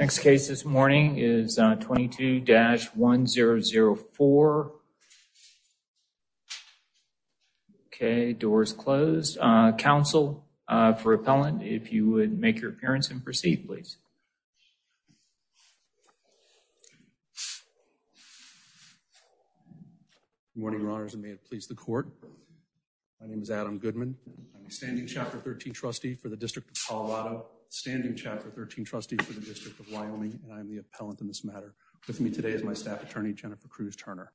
Next case this morning is 22-1004. Okay, doors closed. Counsel for Appellant, if you would make your appearance and proceed please. Good morning, Your Honors, and may it please the court. My name is Adam Goodman. I'm a standing Chapter 13 trustee for the District of Wyoming. I'm the appellant in this matter. With me today is my staff attorney Jennifer Cruz-Turner.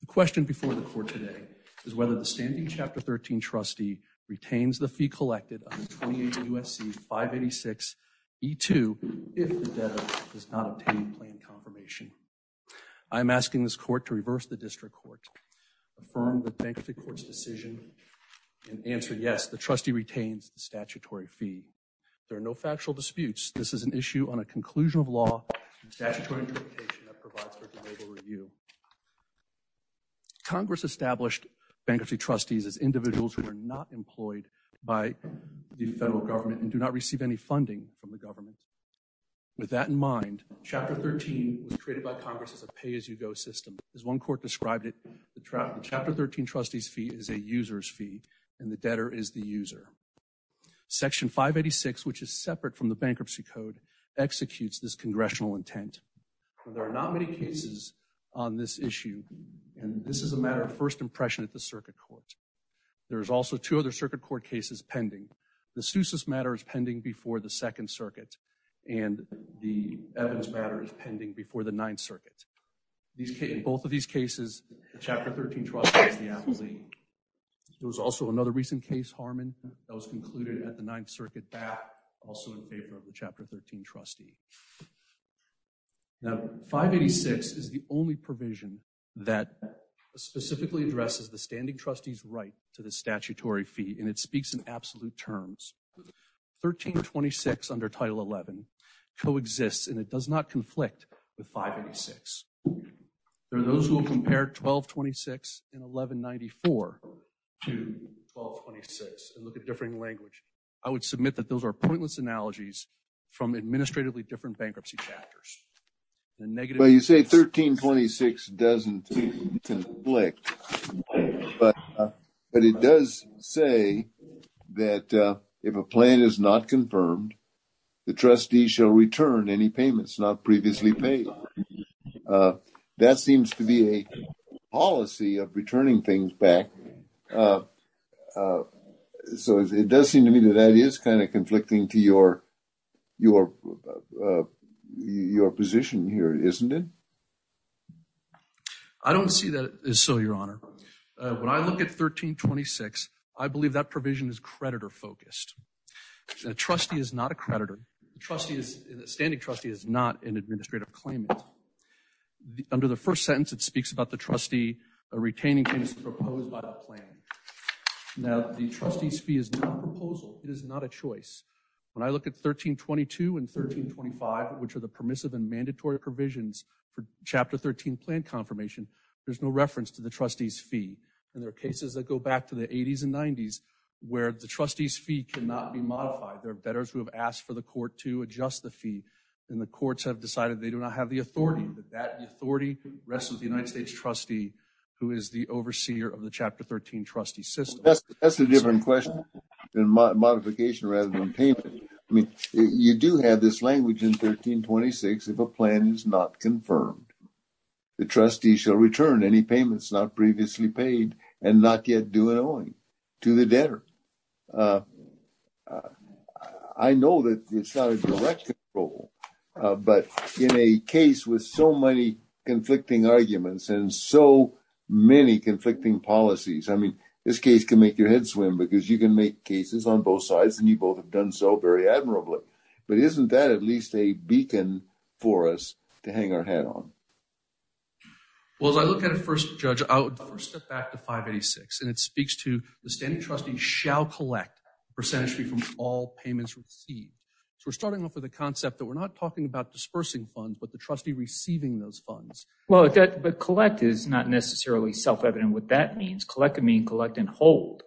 The question before the court today is whether the standing Chapter 13 trustee retains the fee collected under 28 U.S.C. 586 E-2 if the debtor does not obtain planned confirmation. I'm asking this court to reverse the district court. Affirm the bankruptcy court's decision and answer yes, the trustee retains the statutory fee. There are no factual disputes. This is an issue on a conclusion of law. Congress established bankruptcy trustees as individuals who are not employed by the federal government and do not receive any funding from the government. With that in mind, Chapter 13 was created by Congress as a pay-as-you-go system. As one court described it, the Chapter 13 trustee's fee is a user's fee and the debtor is the user. Section 586, which is the statute, executes this congressional intent. There are not many cases on this issue and this is a matter of first impression at the circuit court. There's also two other circuit court cases pending. The Seuss's matter is pending before the Second Circuit and the Evans matter is pending before the Ninth Circuit. In both of these cases, the Chapter 13 trustee is the appellee. There was also another recent case, Harmon, that was concluded at the Ninth Circuit back also in favor of the Chapter 13 trustee. Now, 586 is the only provision that specifically addresses the standing trustee's right to the statutory fee and it speaks in absolute terms. 1326 under Title 11 coexists and it does not conflict with 586. There are those who will compare 1226 and 1194 to 1226 and look at differing language. I would say 1326 doesn't conflict, but it does say that if a plan is not confirmed, the trustee shall return any payments not previously paid. That seems to be a policy of returning things back. So, it does seem to me that that is kind of conflicting to your position here, isn't it? I don't see that as so, your honor. When I look at 1326, I believe that provision is creditor focused. A trustee is not a creditor. A standing trustee is not an administrative claimant. Under the first sentence, it speaks about the trustee retaining things proposed by the plan. Now, the trustee's fee is not a proposal. It is not a choice. When I look at 1322 and 1325, which are the permissive and mandatory provisions for Chapter 13 plan confirmation, there's no reference to the trustee's fee and there are cases that go back to the 80s and 90s where the trustee's fee cannot be modified. There are bettors who have asked for the court to adjust the fee and the courts have decided they do not have the authority. The authority rests with the United States trustee who is the overseer of the Chapter 13 trustee system. That's a different question than modification rather than payment. I mean, you do have this language in 1326 if a plan is not confirmed. The trustee shall return any payments not previously paid and not yet due and owing to the debtor. I know that it's not a direct control, but in a case with so many conflicting arguments and so many conflicting policies, I mean, this case can make your head swim because you can make cases on both sides and you both have done so very admirably. But isn't that at least a beacon for us to hang our head on? Well, as I look at it first, Judge, I would first step back to 586 and it speaks to the standing trustee shall collect percentage fee from all payments received. So, we're starting off with a concept that we're not talking about dispersing funds, but the trustee receiving those funds. Well, but collect is not necessarily self-evident. What that means, collect would mean collect and hold.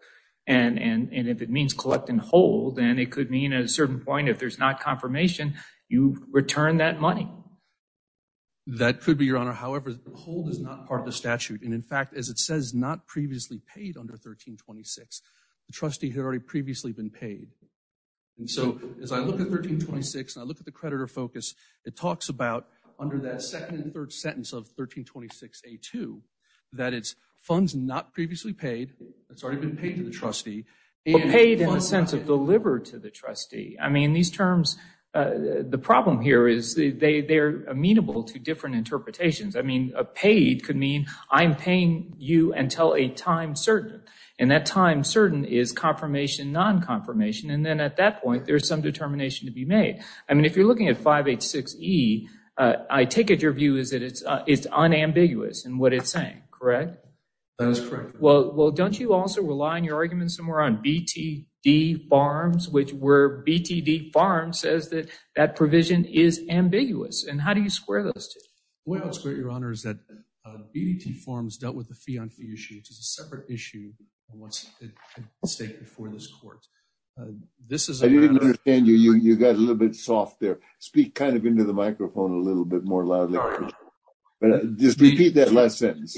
And if it means collect and hold, then it could mean at a certain point if there's not confirmation, you return that money. That could be, Your Honor. However, hold is not part of the statute. And in fact, as it says not previously paid under 1326, the trustee had already previously been paid. So, as I look at 1326, I look at the under that second and third sentence of 1326A2, that it's funds not previously paid. It's already been paid to the trustee. Paid in a sense of delivered to the trustee. I mean, these terms, the problem here is they're amenable to different interpretations. I mean, a paid could mean I'm paying you until a time certain. And that time certain is confirmation, non-confirmation. And then at that point, there's some determination to be made. I mean, if you're looking at 1326586E, I take it your view is that it's unambiguous in what it's saying, correct? That is correct. Well, don't you also rely on your argument somewhere on BTD Farms, which where BTD Farms says that that provision is ambiguous? And how do you square those two? Well, Your Honor, is that BTD Farms dealt with the fee on fee issue, which is a separate issue than what's at stake before this court. I didn't understand you. You got a little bit soft there. Speak kind of into the microphone a little bit more loudly. Just repeat that last sentence.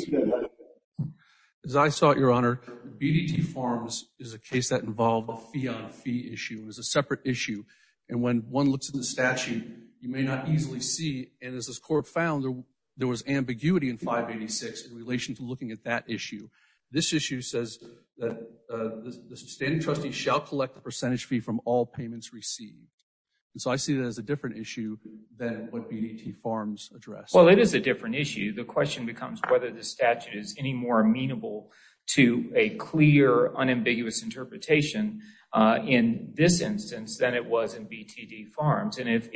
As I saw it, Your Honor, BTD Farms is a case that involved a fee on fee issue. It was a separate issue. And when one looks at the statute, you may not easily see, and as this court found, there was ambiguity in 586 in relation to looking at that issue. This issue says that the sustaining trustee shall collect the percentage fee from all payments received. And so I see that as a different issue than what BTD Farms addressed. Well, it is a different issue. The question becomes whether the statute is any more amenable to a clear, unambiguous interpretation in this instance than it was in BTD Farms. And if,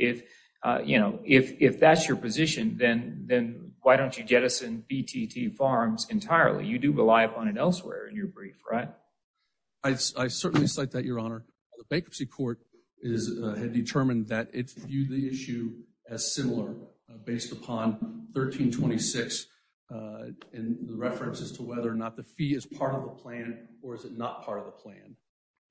you know, if that's your position, then then why don't you jettison BTD Farms entirely? You do rely upon it elsewhere in your brief, right? I certainly cite that, Your Honor. The bankruptcy court has determined that it's viewed the issue as similar based upon 1326 in the references to whether or not the fee is part of the plan, or is it not part of the plan?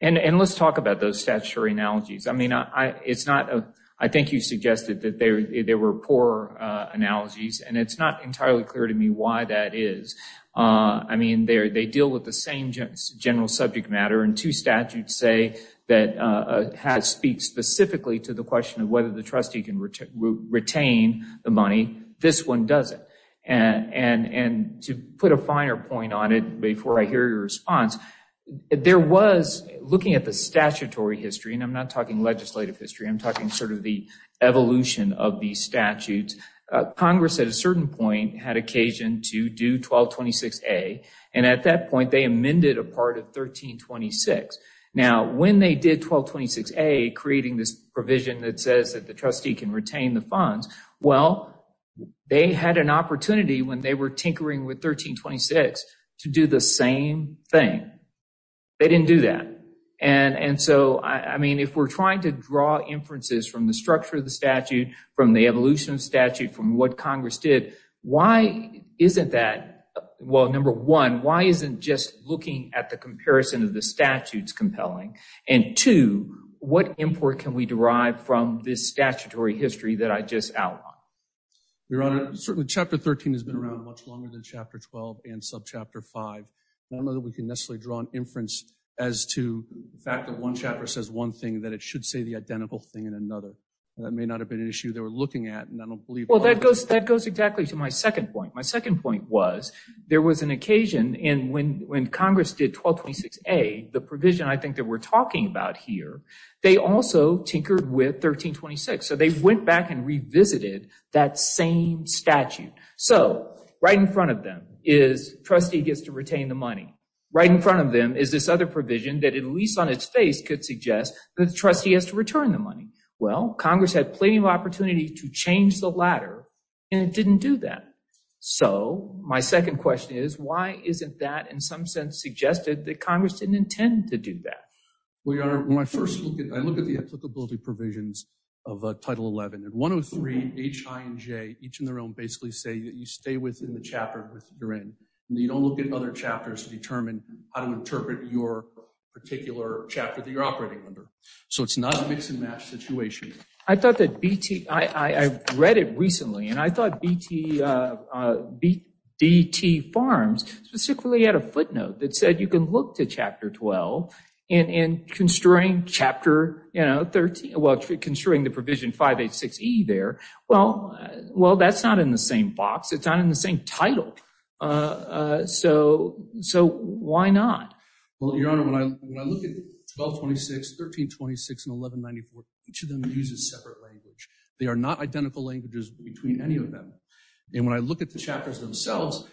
And let's talk about those statutory analogies. I it's not, I think you suggested that there were poor analogies, and it's not entirely clear to me why that is. I mean, they deal with the same general subject matter, and two statutes say that speak specifically to the question of whether the trustee can retain the money. This one doesn't. And to put a finer point on it, before I hear your response, there was, looking at the history, I'm talking sort of the evolution of these statutes. Congress at a certain point had occasion to do 1226A, and at that point they amended a part of 1326. Now, when they did 1226A, creating this provision that says that the trustee can retain the funds, well, they had an opportunity when they were tinkering with 1326 to do the same thing. They didn't do that. And so, I we're trying to draw inferences from the structure of the statute, from the evolution of statute, from what Congress did. Why isn't that, well, number one, why isn't just looking at the comparison of the statutes compelling? And two, what import can we derive from this statutory history that I just outlined? Your Honor, certainly Chapter 13 has been around much longer than Chapter 12 and subchapter 5. I don't know that we can necessarily draw an inference as to the should say the identical thing in another. That may not have been an issue they were looking at and I don't believe. Well, that goes, that goes exactly to my second point. My second point was, there was an occasion in when Congress did 1226A, the provision I think that we're talking about here, they also tinkered with 1326. So, they went back and revisited that same statute. So, right in front of them is trustee gets to retain the money. Right in front of them is this other provision that, at least on its face, could suggest that the trustee has to return the money. Well, Congress had plenty of opportunity to change the latter and it didn't do that. So, my second question is, why isn't that in some sense suggested that Congress didn't intend to do that? Well, Your Honor, when I first look at, I look at the applicability provisions of Title 11 and 103, H, I, and J, each in their own, basically say that you stay within the chapter you're in. You don't look at other chapters to determine how to interpret your particular chapter that you're operating under. So, it's not a mix-and-match situation. I thought that BT, I read it recently and I thought BT, BT Farms, specifically had a footnote that said you can look to Chapter 12 and constrain Chapter, you know, 13, well constrain the provision 586E there. Well, well, that's not in the same box. It's not in the same title. So, so why not? Well, Your Honor, when I look at 1226, 1326, and 1194, each of them uses separate language. They are not identical languages between any of them. And when I look at the chapters themselves,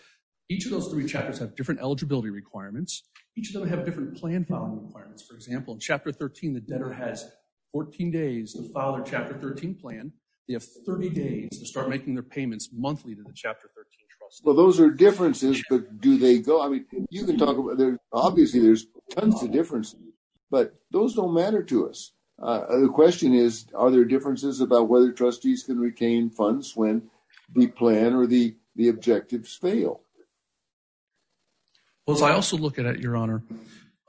each of those three chapters have different eligibility requirements. Each of them have different plan following requirements. For example, in Chapter 13, the debtor has 14 days to file their Chapter 13 plan. They have 30 days to start making their payments monthly to the Chapter 13 trustee. Well, those are differences, but do they go, I mean, you can talk about there, obviously, there's tons of differences, but those don't matter to us. The question is, are there differences about whether trustees can retain funds when the plan or the, the objectives fail? Well, as I also look at it, Your Honor,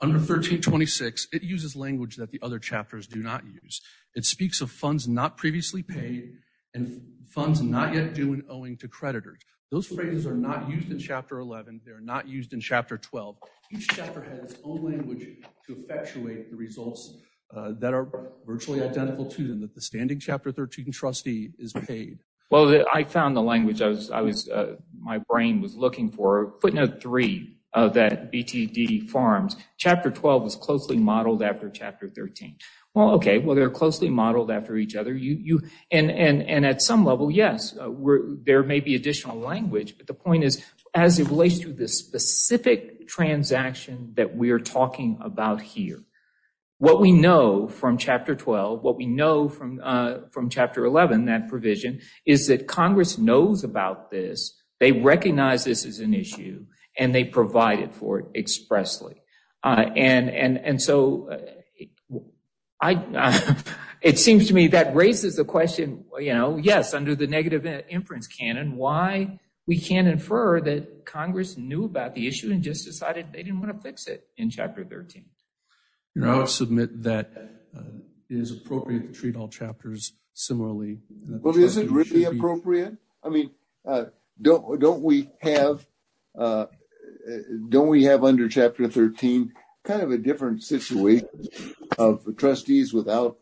under 1326, it uses language that the other chapters do not use. It speaks of funds not previously paid and funds not yet due and owing to creditors. Those phrases are not used in Chapter 11. They're not used in Chapter 12. Each chapter has its own language to effectuate the results that are virtually identical to them, that the standing Chapter 13 trustee is paid. Well, I found the language I was, I was, my brain was looking for, footnote three of that BTD farms, Chapter 12 is closely modeled after Chapter 13. Well, okay, well, they're closely modeled after each other. You, you, and, and, and at some level, yes, we're, there may be additional language, but the point is, as it relates to this specific transaction that we're talking about here, what we know from Chapter 12, what we know from, from Chapter 11, that provision is that Congress knows about this. They recognize this as an issue and they provide it for it expressly. Uh, and, and, and so I, it seems to me that raises the question, you know, yes, under the negative inference canon, why we can't infer that Congress knew about the issue and just decided they didn't want to fix it in Chapter 13. You know, I would submit that is appropriate to treat all chapters. Similarly, is it really appropriate? I mean, don't don't we have don't we have under Chapter 13 kind of a different situation of trustees without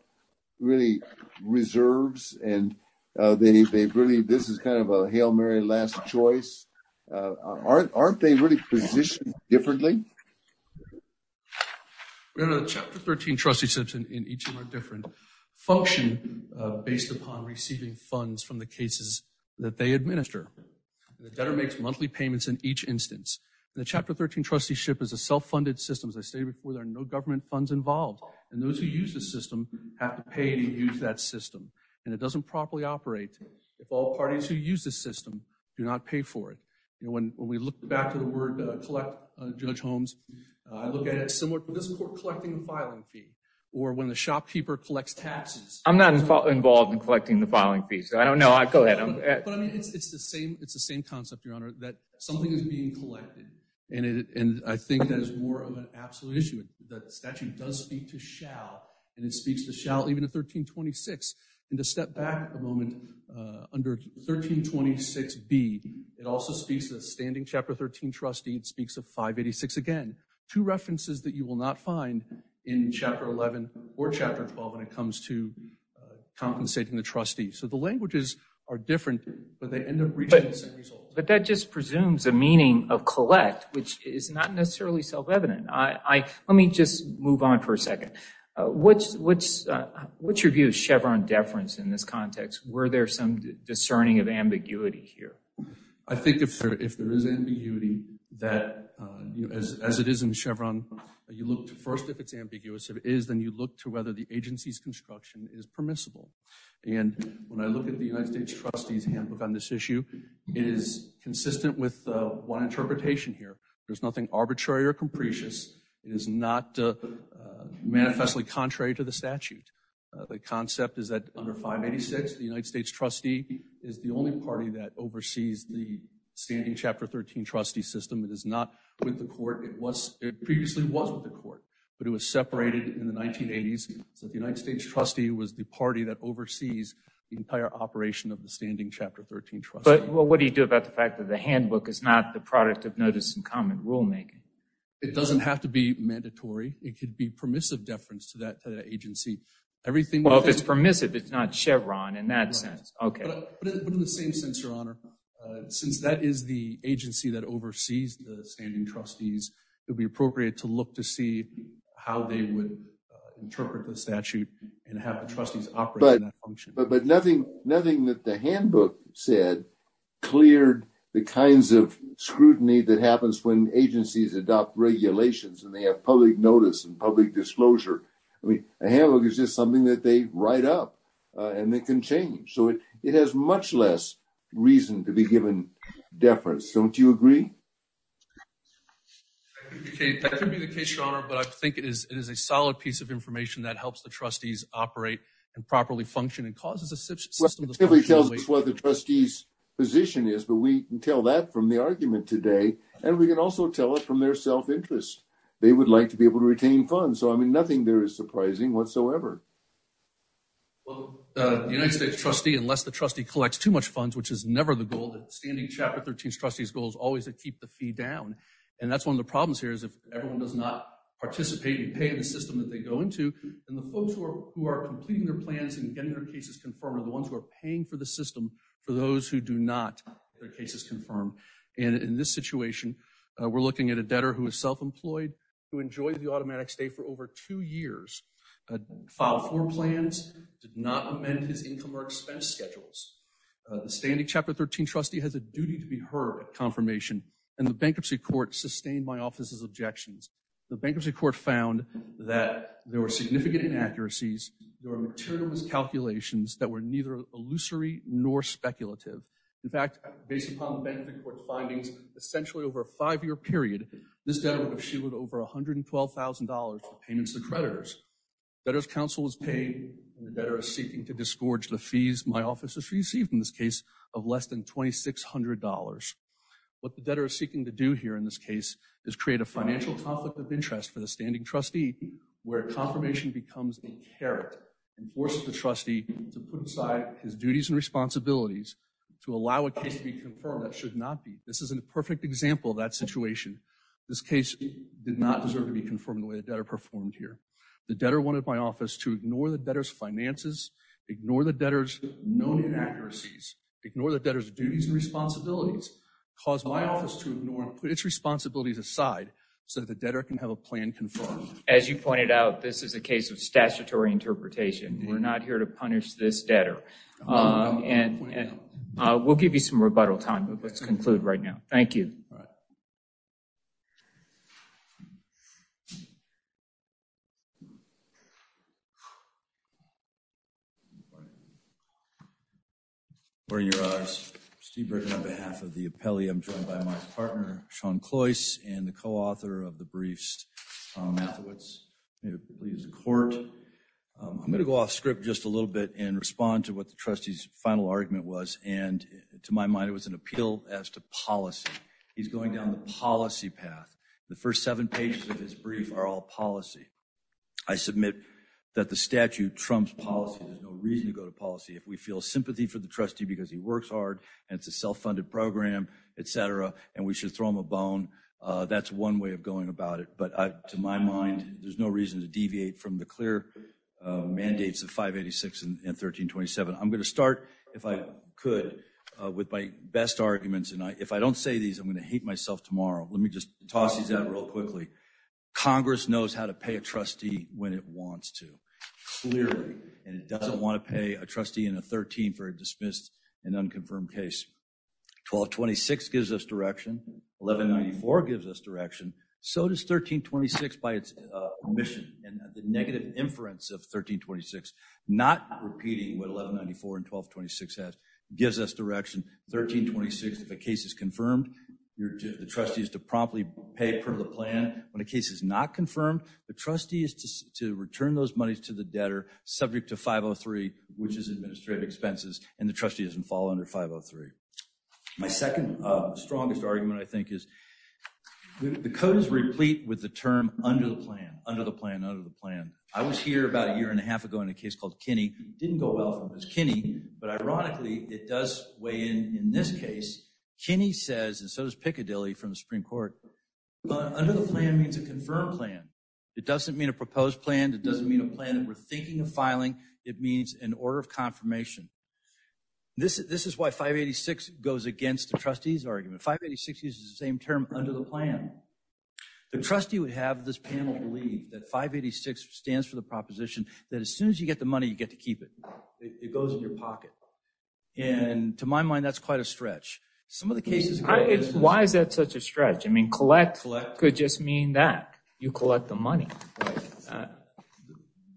really reserves and they really this is kind of a Hail Mary last choice. Aren't aren't they really positioned differently? Chapter 13 trusteeships in each of our different function based upon receiving funds from the cases that they administer. The debtor makes monthly payments in each instance. The Chapter 13 trusteeship is a self-funded system. As I stated before, there are no government funds involved and those who use the system have to pay to use that system and it doesn't properly operate if all parties who use the system do not pay for it. When we look back to the word collect Judge Holmes, I look at it similar to this court collecting the filing fee or when the shopkeeper collects taxes. I'm not involved in collecting the filing fees. I don't know. I go ahead. It's the same. It's the same concept your honor that something is being collected and it and I think that is more of an absolute issue that statute does speak to shall and it speaks to shall even a 1326 and to step back a moment under 1326 be it also speaks to the standing Chapter 13 trustee and speaks of 586 again to references that you will not find in Chapter 11 or Chapter 12 when it comes to compensating the trustee. So the languages are different but they end up reaching the same result. But that just presumes a meaning of collect which is not necessarily self-evident. Let me just move on for a second. What's your view of Chevron deference in this context? Were there some discerning of ambiguity here? I think if there is ambiguity that as it is in Chevron, you look to first if it's ambiguous if it is then you look to whether the agency's construction is permissible. And when I look at the United States trustees handbook on this issue, it is consistent with one interpretation here. There's nothing arbitrary or capricious. It is not manifestly contrary to the statute. The concept is that under 586 the United States trustee is the only party that oversees the standing Chapter 13 trustee system. It is not with the court. It was it previously was with the court but it was separated in the 1980s. So the United States trustee was the party that oversees the entire operation of the standing Chapter 13 trustee. But what do you do about the fact that the handbook is not the product of notice and comment rulemaking? It doesn't have to be mandatory. It could be permissive deference to that agency. Well if it's permissive it's not Chevron in that sense. But in the same sense, your honor, since that is the agency that oversees the standing trustees, it would be appropriate to look to see how they would interpret the statute and have the trustees operate in that function. But nothing that the handbook said cleared the kinds of scrutiny that happens when agencies adopt regulations and they have public notice and public disclosure. I mean, a handbook is just something that they write up and they can change. So it has much less reason to be given deference. Don't you agree? Okay, that could be the case, your honor, but I think it is it is a solid piece of information that helps the trustees operate and properly function and causes a system that tells us what the trustees position is. But we can tell that from the argument today, and we can also tell it from their self interest. They would like to be able to retain funds. So, I mean, nothing there is surprising whatsoever. Well, the United States trustee, unless the trustee collects too much funds, which is never the goal, the standing chapter 13 trustees goal is always to keep the fee down. And that's one of the problems here is if everyone does not participate and pay in the system that they go into, and the folks who are completing their plans and getting their cases confirmed are the ones who are paying for the system for those who do not get their cases confirmed. And in this situation, we're looking at a debtor who is self-employed, who enjoyed the automatic stay for over two years, filed for plans, did not amend his income or expense schedules. The standing chapter 13 trustee has a duty to be heard at confirmation, and the bankruptcy court sustained my office's objections. The bankruptcy court found that there were significant inaccuracies, there were material miscalculations that were neither illusory nor speculative. In fact, based upon the bankruptcy court's findings, essentially over a five-year period, this debtor would have shielded over $112,000 for payments to creditors. Debtor's counsel is paying, and the debtor is seeking to disgorge the fees my office has received in this case of less than $2,600. What the debtor is seeking to do here in this case is create a financial conflict of interest for the standing trustee where confirmation becomes a carrot and forces the trustee to put aside his duties and responsibilities to allow a case to be confirmed that should not be. This is a perfect example of that situation. This case did not deserve to be confirmed the way the debtor performed here. The debtor wanted my office to ignore the debtor's finances, ignore the debtor's known inaccuracies, ignore the debtor's duties and responsibilities, cause my office to ignore and put its responsibilities aside so that the debtor can have a plan confirmed. As you pointed out, this is a case of statutory interpretation. We're not here to punish this debtor, and we'll give you some rebuttal time, but let's conclude right now. Thank you. Thank you. Thank you. I'm going to go off script just a little bit and respond to what the trustee's final argument was. And to my mind, it was an appeal as to policy. He's going down the policy path. The first seven pages of his brief are all policy. I submit that the statute trumps policy. There's no reason to go to policy. If we feel sympathy for the trustee because he works hard and it's a self-funded program, et cetera, and we should throw him a bone, that's one way of going about it. But to my mind, there's no reason to deviate from the clear mandates of 586 and 1327. I'm going to start, if I could, with my best arguments. And if I don't say these, I'm going to hate myself tomorrow. Let me just toss these out real quickly. Congress knows how to pay a trustee when it wants to, clearly. And it doesn't want to pay a trustee in a 13 for a dismissed and unconfirmed case. 1226 gives us direction. 1194 gives us direction. So does 1326 by its omission and the negative inference of 1326, not repeating what 1194 and 1226 has. It gives us direction. 1326, if a case is confirmed, the trustee is to promptly pay per the plan. When a case is not confirmed, the trustee is to return those monies to the debtor subject to 503, which is administrative expenses, and the trustee doesn't fall under 503. My second strongest argument, I think, is the code is replete with the term under the plan, under the plan, under the plan. I was here about a year and a half ago in a case called Kinney. Didn't go well for this Kinney. But ironically, it does weigh in in this case. Kinney says, and so does Piccadilly from the Supreme Court, under the plan means a confirmed plan. It doesn't mean a proposed plan. It doesn't mean a plan that we're thinking of filing. It means an order of confirmation. This is why 586 goes against the trustee's argument. 586 uses the same term under the plan. The trustee would have this panel believe that 586 stands for the proposition that as soon as you get the money, you get to keep it. It goes in your pocket. And to my mind, that's quite a stretch. Some of the cases… Why is that such a stretch? I mean, collect could just mean that. You collect the money.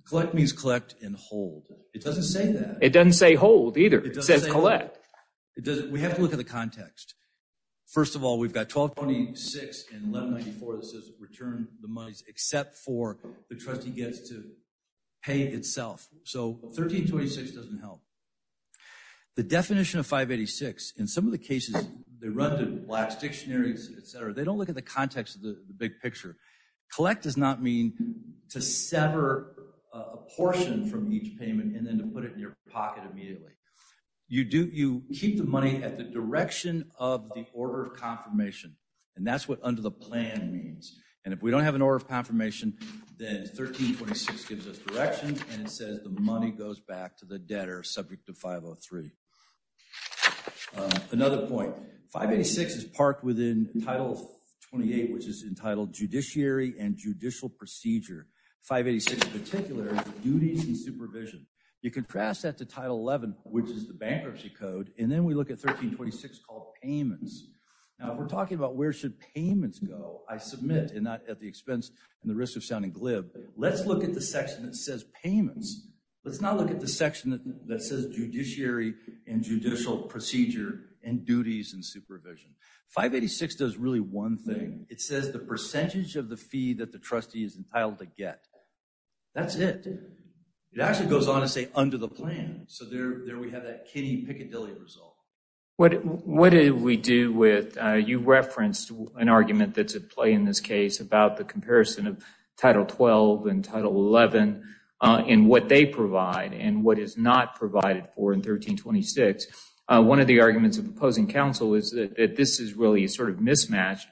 Collect means collect and hold. It doesn't say that. It doesn't say hold either. It says collect. It doesn't. We have to look at the context. First of all, we've got 1226 and 1194 that says return the monies except for the trustee gets to pay itself. So 1326 doesn't help. The definition of 586, in some of the cases, they run to black dictionaries, et cetera. They don't look at the context of the big picture. Collect does not mean to sever a portion from each payment and then to put it in your pocket immediately. You keep the money at the direction of the order of confirmation, and that's what under the plan means. And if we don't have an order of confirmation, then 1326 gives us direction, and it says the money goes back to the debtor subject to 503. Another point. 586 is parked within Title 28, which is entitled Judiciary and Judicial Procedure. 586 in particular is Duties and Supervision. You contrast that to Title 11, which is the Bankruptcy Code, and then we look at 1326 called Payments. Now, we're talking about where should payments go? I submit, and not at the expense and the risk of sounding glib, let's look at the section that says Payments. Let's not look at the section that says Judiciary and Judicial Procedure and Duties and Supervision. 586 does really one thing. It says the percentage of the fee that the trustee is entitled to get. That's it. It actually goes on to say under the plan, so there we have that kiddie, piccadilly result. What did we do with, you referenced an argument that's at play in this case about the comparison of Title 12 and Title 11 and what they provide and what is not provided for in 1326. One of the arguments of opposing counsel is that this is really a sort of mismatched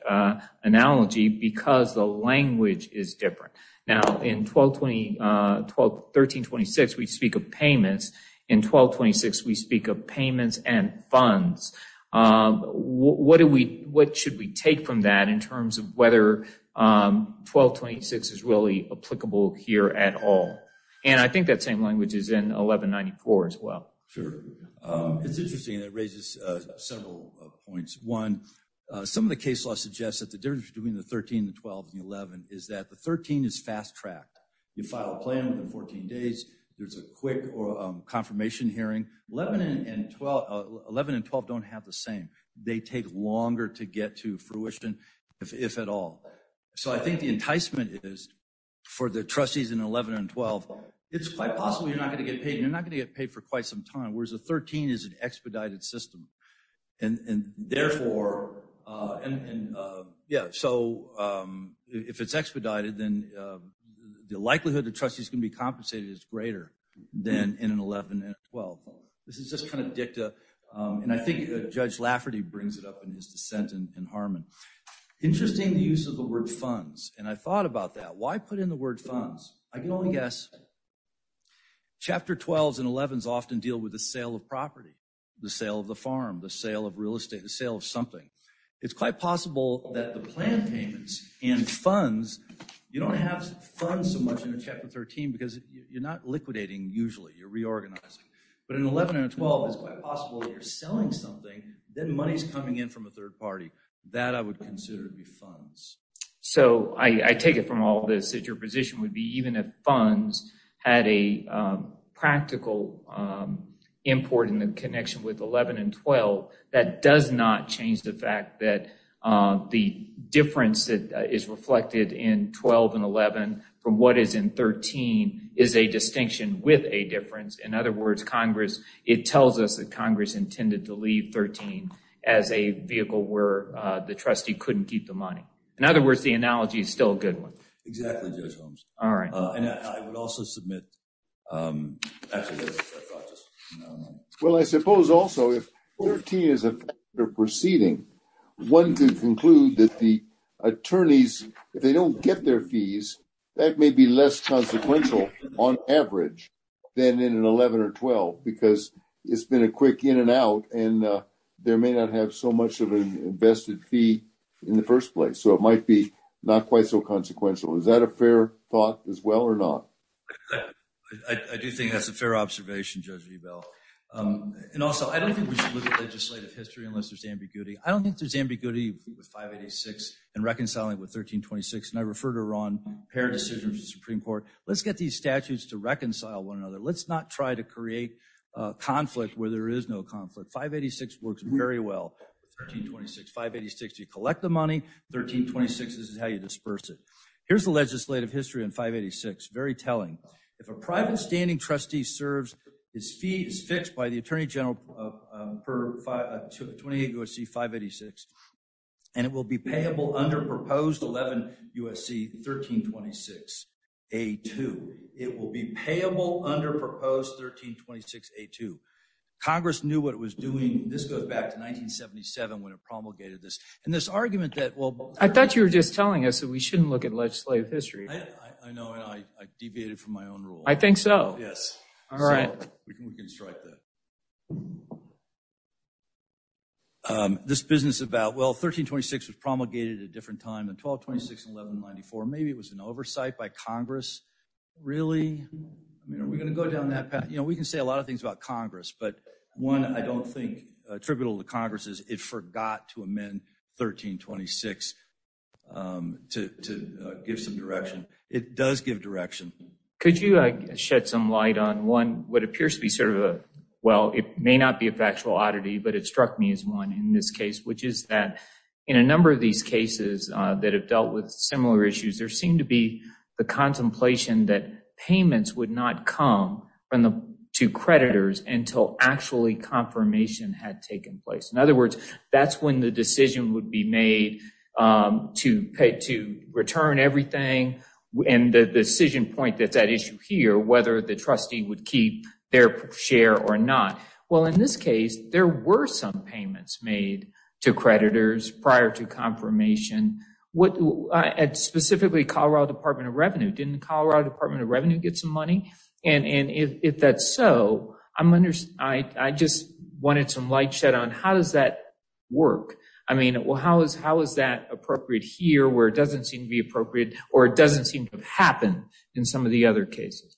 analogy because the language is different. Now, in 1326, we speak of payments. In 1226, we speak of payments and funds. What should we take from that in terms of whether 1226 is really applicable here at all? And I think that same language is in 1194 as well. Sure. It's interesting. It raises several points. One, some of the case law suggests that the difference between the 13, the 12, and the 11 is that the 13 is fast-tracked. You file a plan within 14 days. There's a quick confirmation hearing. 11 and 12 don't have the same. They take longer to get to fruition, if at all. So I think the enticement is for the trustees in 11 and 12, it's quite possible you're not going to get paid and you're not going to get paid for quite some time, whereas the 13 is an expedited system. And therefore, yeah, so if it's expedited, then the likelihood the trustees can be compensated is greater than in an 11 and 12. This is just kind of dicta, and I think Judge Lafferty brings it up in his dissent in Harmon. Interesting, the use of the word funds, and I thought about that. Why put in the word funds? I can only guess. Chapter 12s and 11s often deal with the sale of property, the sale of the farm, the sale of real estate, the sale of something. It's quite possible that the plan payments and funds, you don't have funds so much in a chapter 13 because you're not liquidating usually. You're reorganizing. But in 11 and 12, it's quite possible that you're selling something, then money's coming in from a third party. That I would consider to be funds. So I take it from all this that your position would be even if funds had a practical import in the connection with 11 and 12, that does not change the fact that the difference that is reflected in 12 and 11 from what is in 13 is a distinction with a difference. In other words, Congress, it tells us that Congress intended to leave 13 as a vehicle where the trustee couldn't keep the money. In other words, the analogy is still a good one. Exactly, Judge Holmes. All right. And I would also submit. Well, I suppose also if 13 is a proceeding, one could conclude that the attorneys, if they don't get their fees, that may be less consequential on average than in an 11 or 12, because it's been a quick in and out. And there may not have so much of an invested fee in the 1st place. So it might be not quite so consequential. Is that a fair thought as well or not? I do think that's a fair observation, Judge. And also, I don't think we should look at legislative history unless there's ambiguity. I don't think there's ambiguity with 586 and reconciling with 1326. And I refer to Ron's decision of the Supreme Court. Let's get these statutes to reconcile one another. Let's not try to create conflict where there is no conflict. 586 works very well. 1326, 586, you collect the money. 1326, this is how you disperse it. Here's the legislative history on 586. Very telling. If a private standing trustee serves, his fee is fixed by the Attorney General per 28 U.S.C. 586, and it will be payable under proposed 11 U.S.C. 1326 A.2. It will be payable under proposed 1326 A.2. Congress knew what it was doing. This goes back to 1977 when it promulgated this. And this argument that – I thought you were just telling us that we shouldn't look at legislative history. I know, and I deviated from my own rule. I think so. Yes. All right. We can strike that. This business about, well, 1326 was promulgated at a different time than 1226 and 1194. Maybe it was an oversight by Congress. Really? Are we going to go down that path? You know, we can say a lot of things about Congress. But one I don't think attributable to Congress is it forgot to amend 1326 to give some direction. It does give direction. Could you shed some light on one what appears to be sort of a – well, it may not be a factual oddity, but it struck me as one in this case, which is that in a number of these cases that have dealt with similar issues, there seemed to be the contemplation that payments would not come to creditors until actually confirmation had taken place. In other words, that's when the decision would be made to return everything and the decision point that's at issue here, whether the trustee would keep their share or not. Well, in this case, there were some payments made to creditors prior to confirmation. Specifically, Colorado Department of Revenue. Didn't Colorado Department of Revenue get some money? And if that's so, I just wanted some light shed on how does that work? I mean, how is that appropriate here where it doesn't seem to be appropriate or it doesn't seem to have happened in some of the other cases?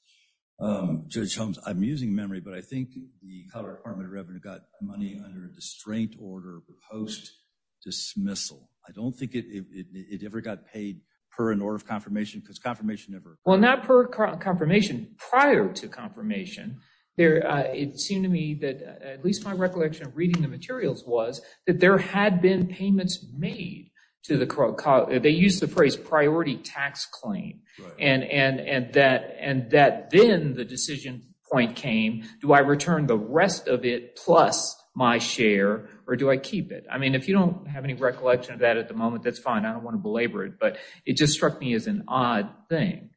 Judge Holmes, I'm using memory, but I think the Colorado Department of Revenue got money under a distraint order post-dismissal. I don't think it ever got paid per an order of confirmation because confirmation never occurred. Well, not per confirmation, prior to confirmation. It seemed to me that at least my recollection of reading the materials was that there had been payments made to the – they used the phrase priority tax claim. And that then the decision point came, do I return the rest of it plus my share or do I keep it? I mean, if you don't have any recollection of that at the moment, that's fine. I don't want to belabor it, but it just struck me as an odd thing.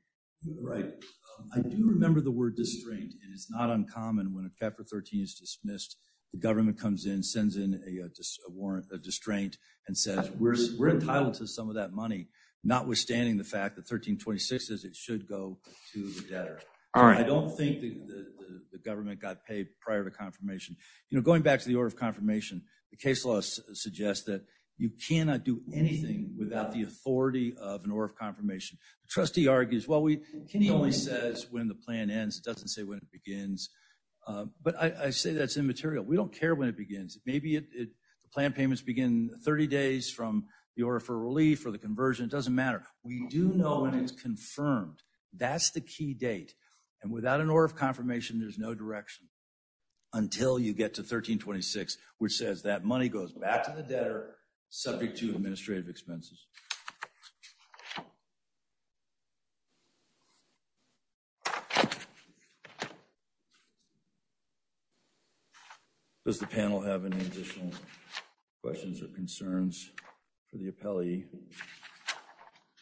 Right. I do remember the word distraint. It is not uncommon when a cap for 13 is dismissed, the government comes in, sends in a warrant, a distraint, and says we're entitled to some of that money, notwithstanding the fact that 1326 says it should go to the debtor. I don't think the government got paid prior to confirmation. You know, going back to the order of confirmation, the case law suggests that you cannot do anything without the authority of an order of confirmation. The trustee argues, well, Kenny only says when the plan ends. It doesn't say when it begins. But I say that's immaterial. We don't care when it begins. Maybe the plan payments begin 30 days from the order for relief or the conversion. It doesn't matter. We do know when it's confirmed. That's the key date. And without an order of confirmation, there's no direction until you get to 1326, which says that money goes back to the debtor subject to administrative expenses. Does the panel have any additional questions or concerns for the appellee?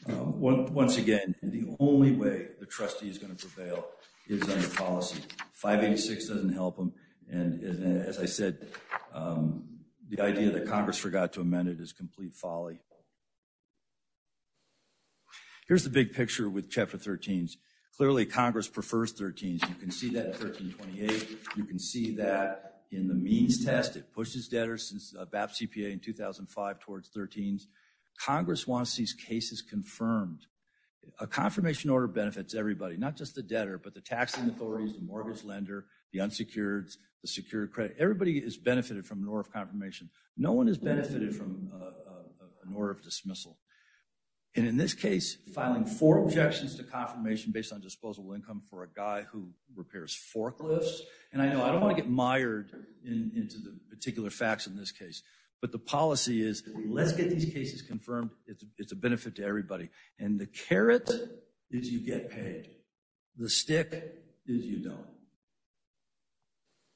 Once again, the only way the trustee is going to prevail is under policy. 586 doesn't help them. And as I said, the idea that Congress forgot to amend it is complete folly. Here's the big picture with Chapter 13. Clearly, Congress prefers 13. You can see that in 1328. You can see that in the means test. It pushes debtors since BAP CPA in 2005 towards 13. Congress wants these cases confirmed. A confirmation order benefits everybody, not just the debtor, but the taxing authorities, the mortgage lender, the unsecured, the secured credit. Everybody is benefited from an order of confirmation. No one is benefited from an order of dismissal. And in this case, filing four objections to confirmation based on disposable income for a guy who repairs forklifts. And I know I don't want to get mired into the particular facts in this case. But the policy is let's get these cases confirmed. It's a benefit to everybody. And the carrot is you get paid. The stick is you don't.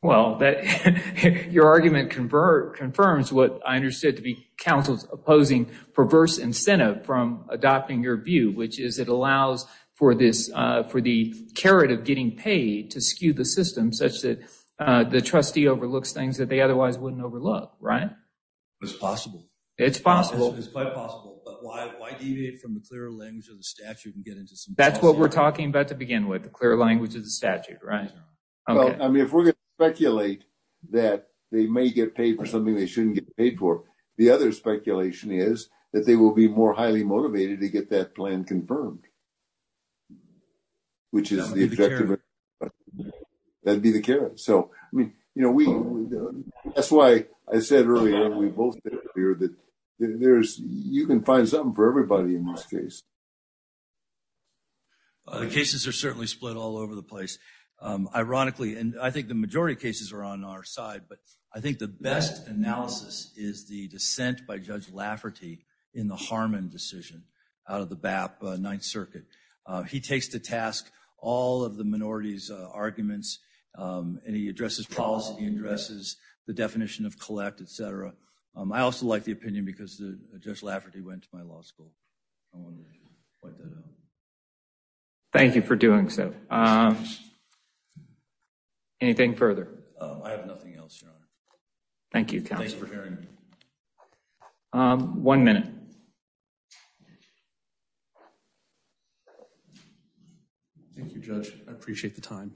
Well, your argument confirms what I understood to be counsel's opposing perverse incentive from adopting your view, which is it allows for the carrot of getting paid to skew the system such that the trustee overlooks things that they otherwise wouldn't overlook. Right. It's possible. It's possible. It's quite possible. But why? Why deviate from the clear language of the statute and get into some. That's what we're talking about to begin with the clear language of the statute. Right. I mean, if we're going to speculate that they may get paid for something, they shouldn't get paid for. The other speculation is that they will be more highly motivated to get that plan confirmed. Which is the objective. That'd be the carrot. So, I mean, you know, we that's why I said earlier, we both hear that there's you can find something for everybody in this case. The cases are certainly split all over the place. Ironically, and I think the majority of cases are on our side, but I think the best analysis is the dissent by Judge Lafferty in the Harmon decision out of the BAP ninth circuit. He takes to task all of the minorities arguments and he addresses policy, addresses the definition of collect, etc. I also like the opinion because Judge Lafferty went to my law school. Thank you for doing so. Anything further? I have nothing else. Thank you. One minute. Thank you, Judge. I appreciate the time.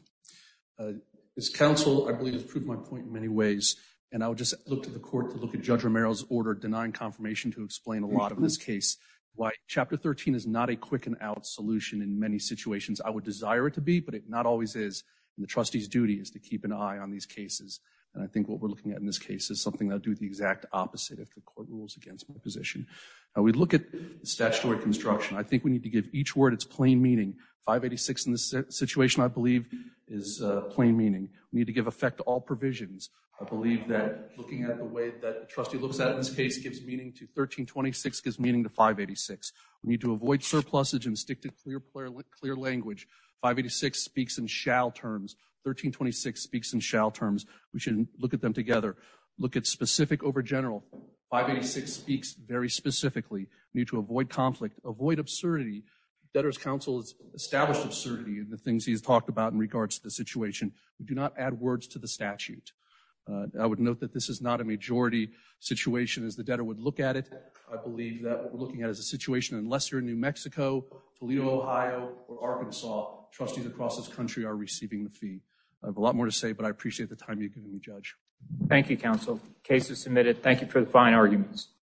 This council, I believe, has proved my point in many ways, and I would just look to the court to look at Judge Romero's order denying confirmation to explain a lot of this case. Why Chapter 13 is not a quick and out solution in many situations. I would desire it to be, but it not always is. And the trustee's duty is to keep an eye on these cases. And I think what we're looking at in this case is something that do the exact opposite of the court rules against my position. We look at statutory construction. I think we need to give each word its plain meaning. 586 in this situation, I believe, is plain meaning. We need to give effect to all provisions. I believe that looking at the way that the trustee looks at this case gives meaning to 1326, gives meaning to 586. We need to avoid surpluses and stick to clear language. 586 speaks in shall terms. 1326 speaks in shall terms. We should look at them together. Look at specific over general. 586 speaks very specifically. We need to avoid conflict, avoid absurdity. Debtor's counsel has established absurdity in the things he's talked about in regards to the situation. Do not add words to the statute. I would note that this is not a majority situation as the debtor would look at it. I believe that what we're looking at is a situation in Lester, New Mexico, Toledo, Ohio, or Arkansas. Trustees across this country are receiving the fee. I have a lot more to say, but I appreciate the time you've given me, Judge. Thank you, Counsel. Case is submitted. Thank you for the fine arguments.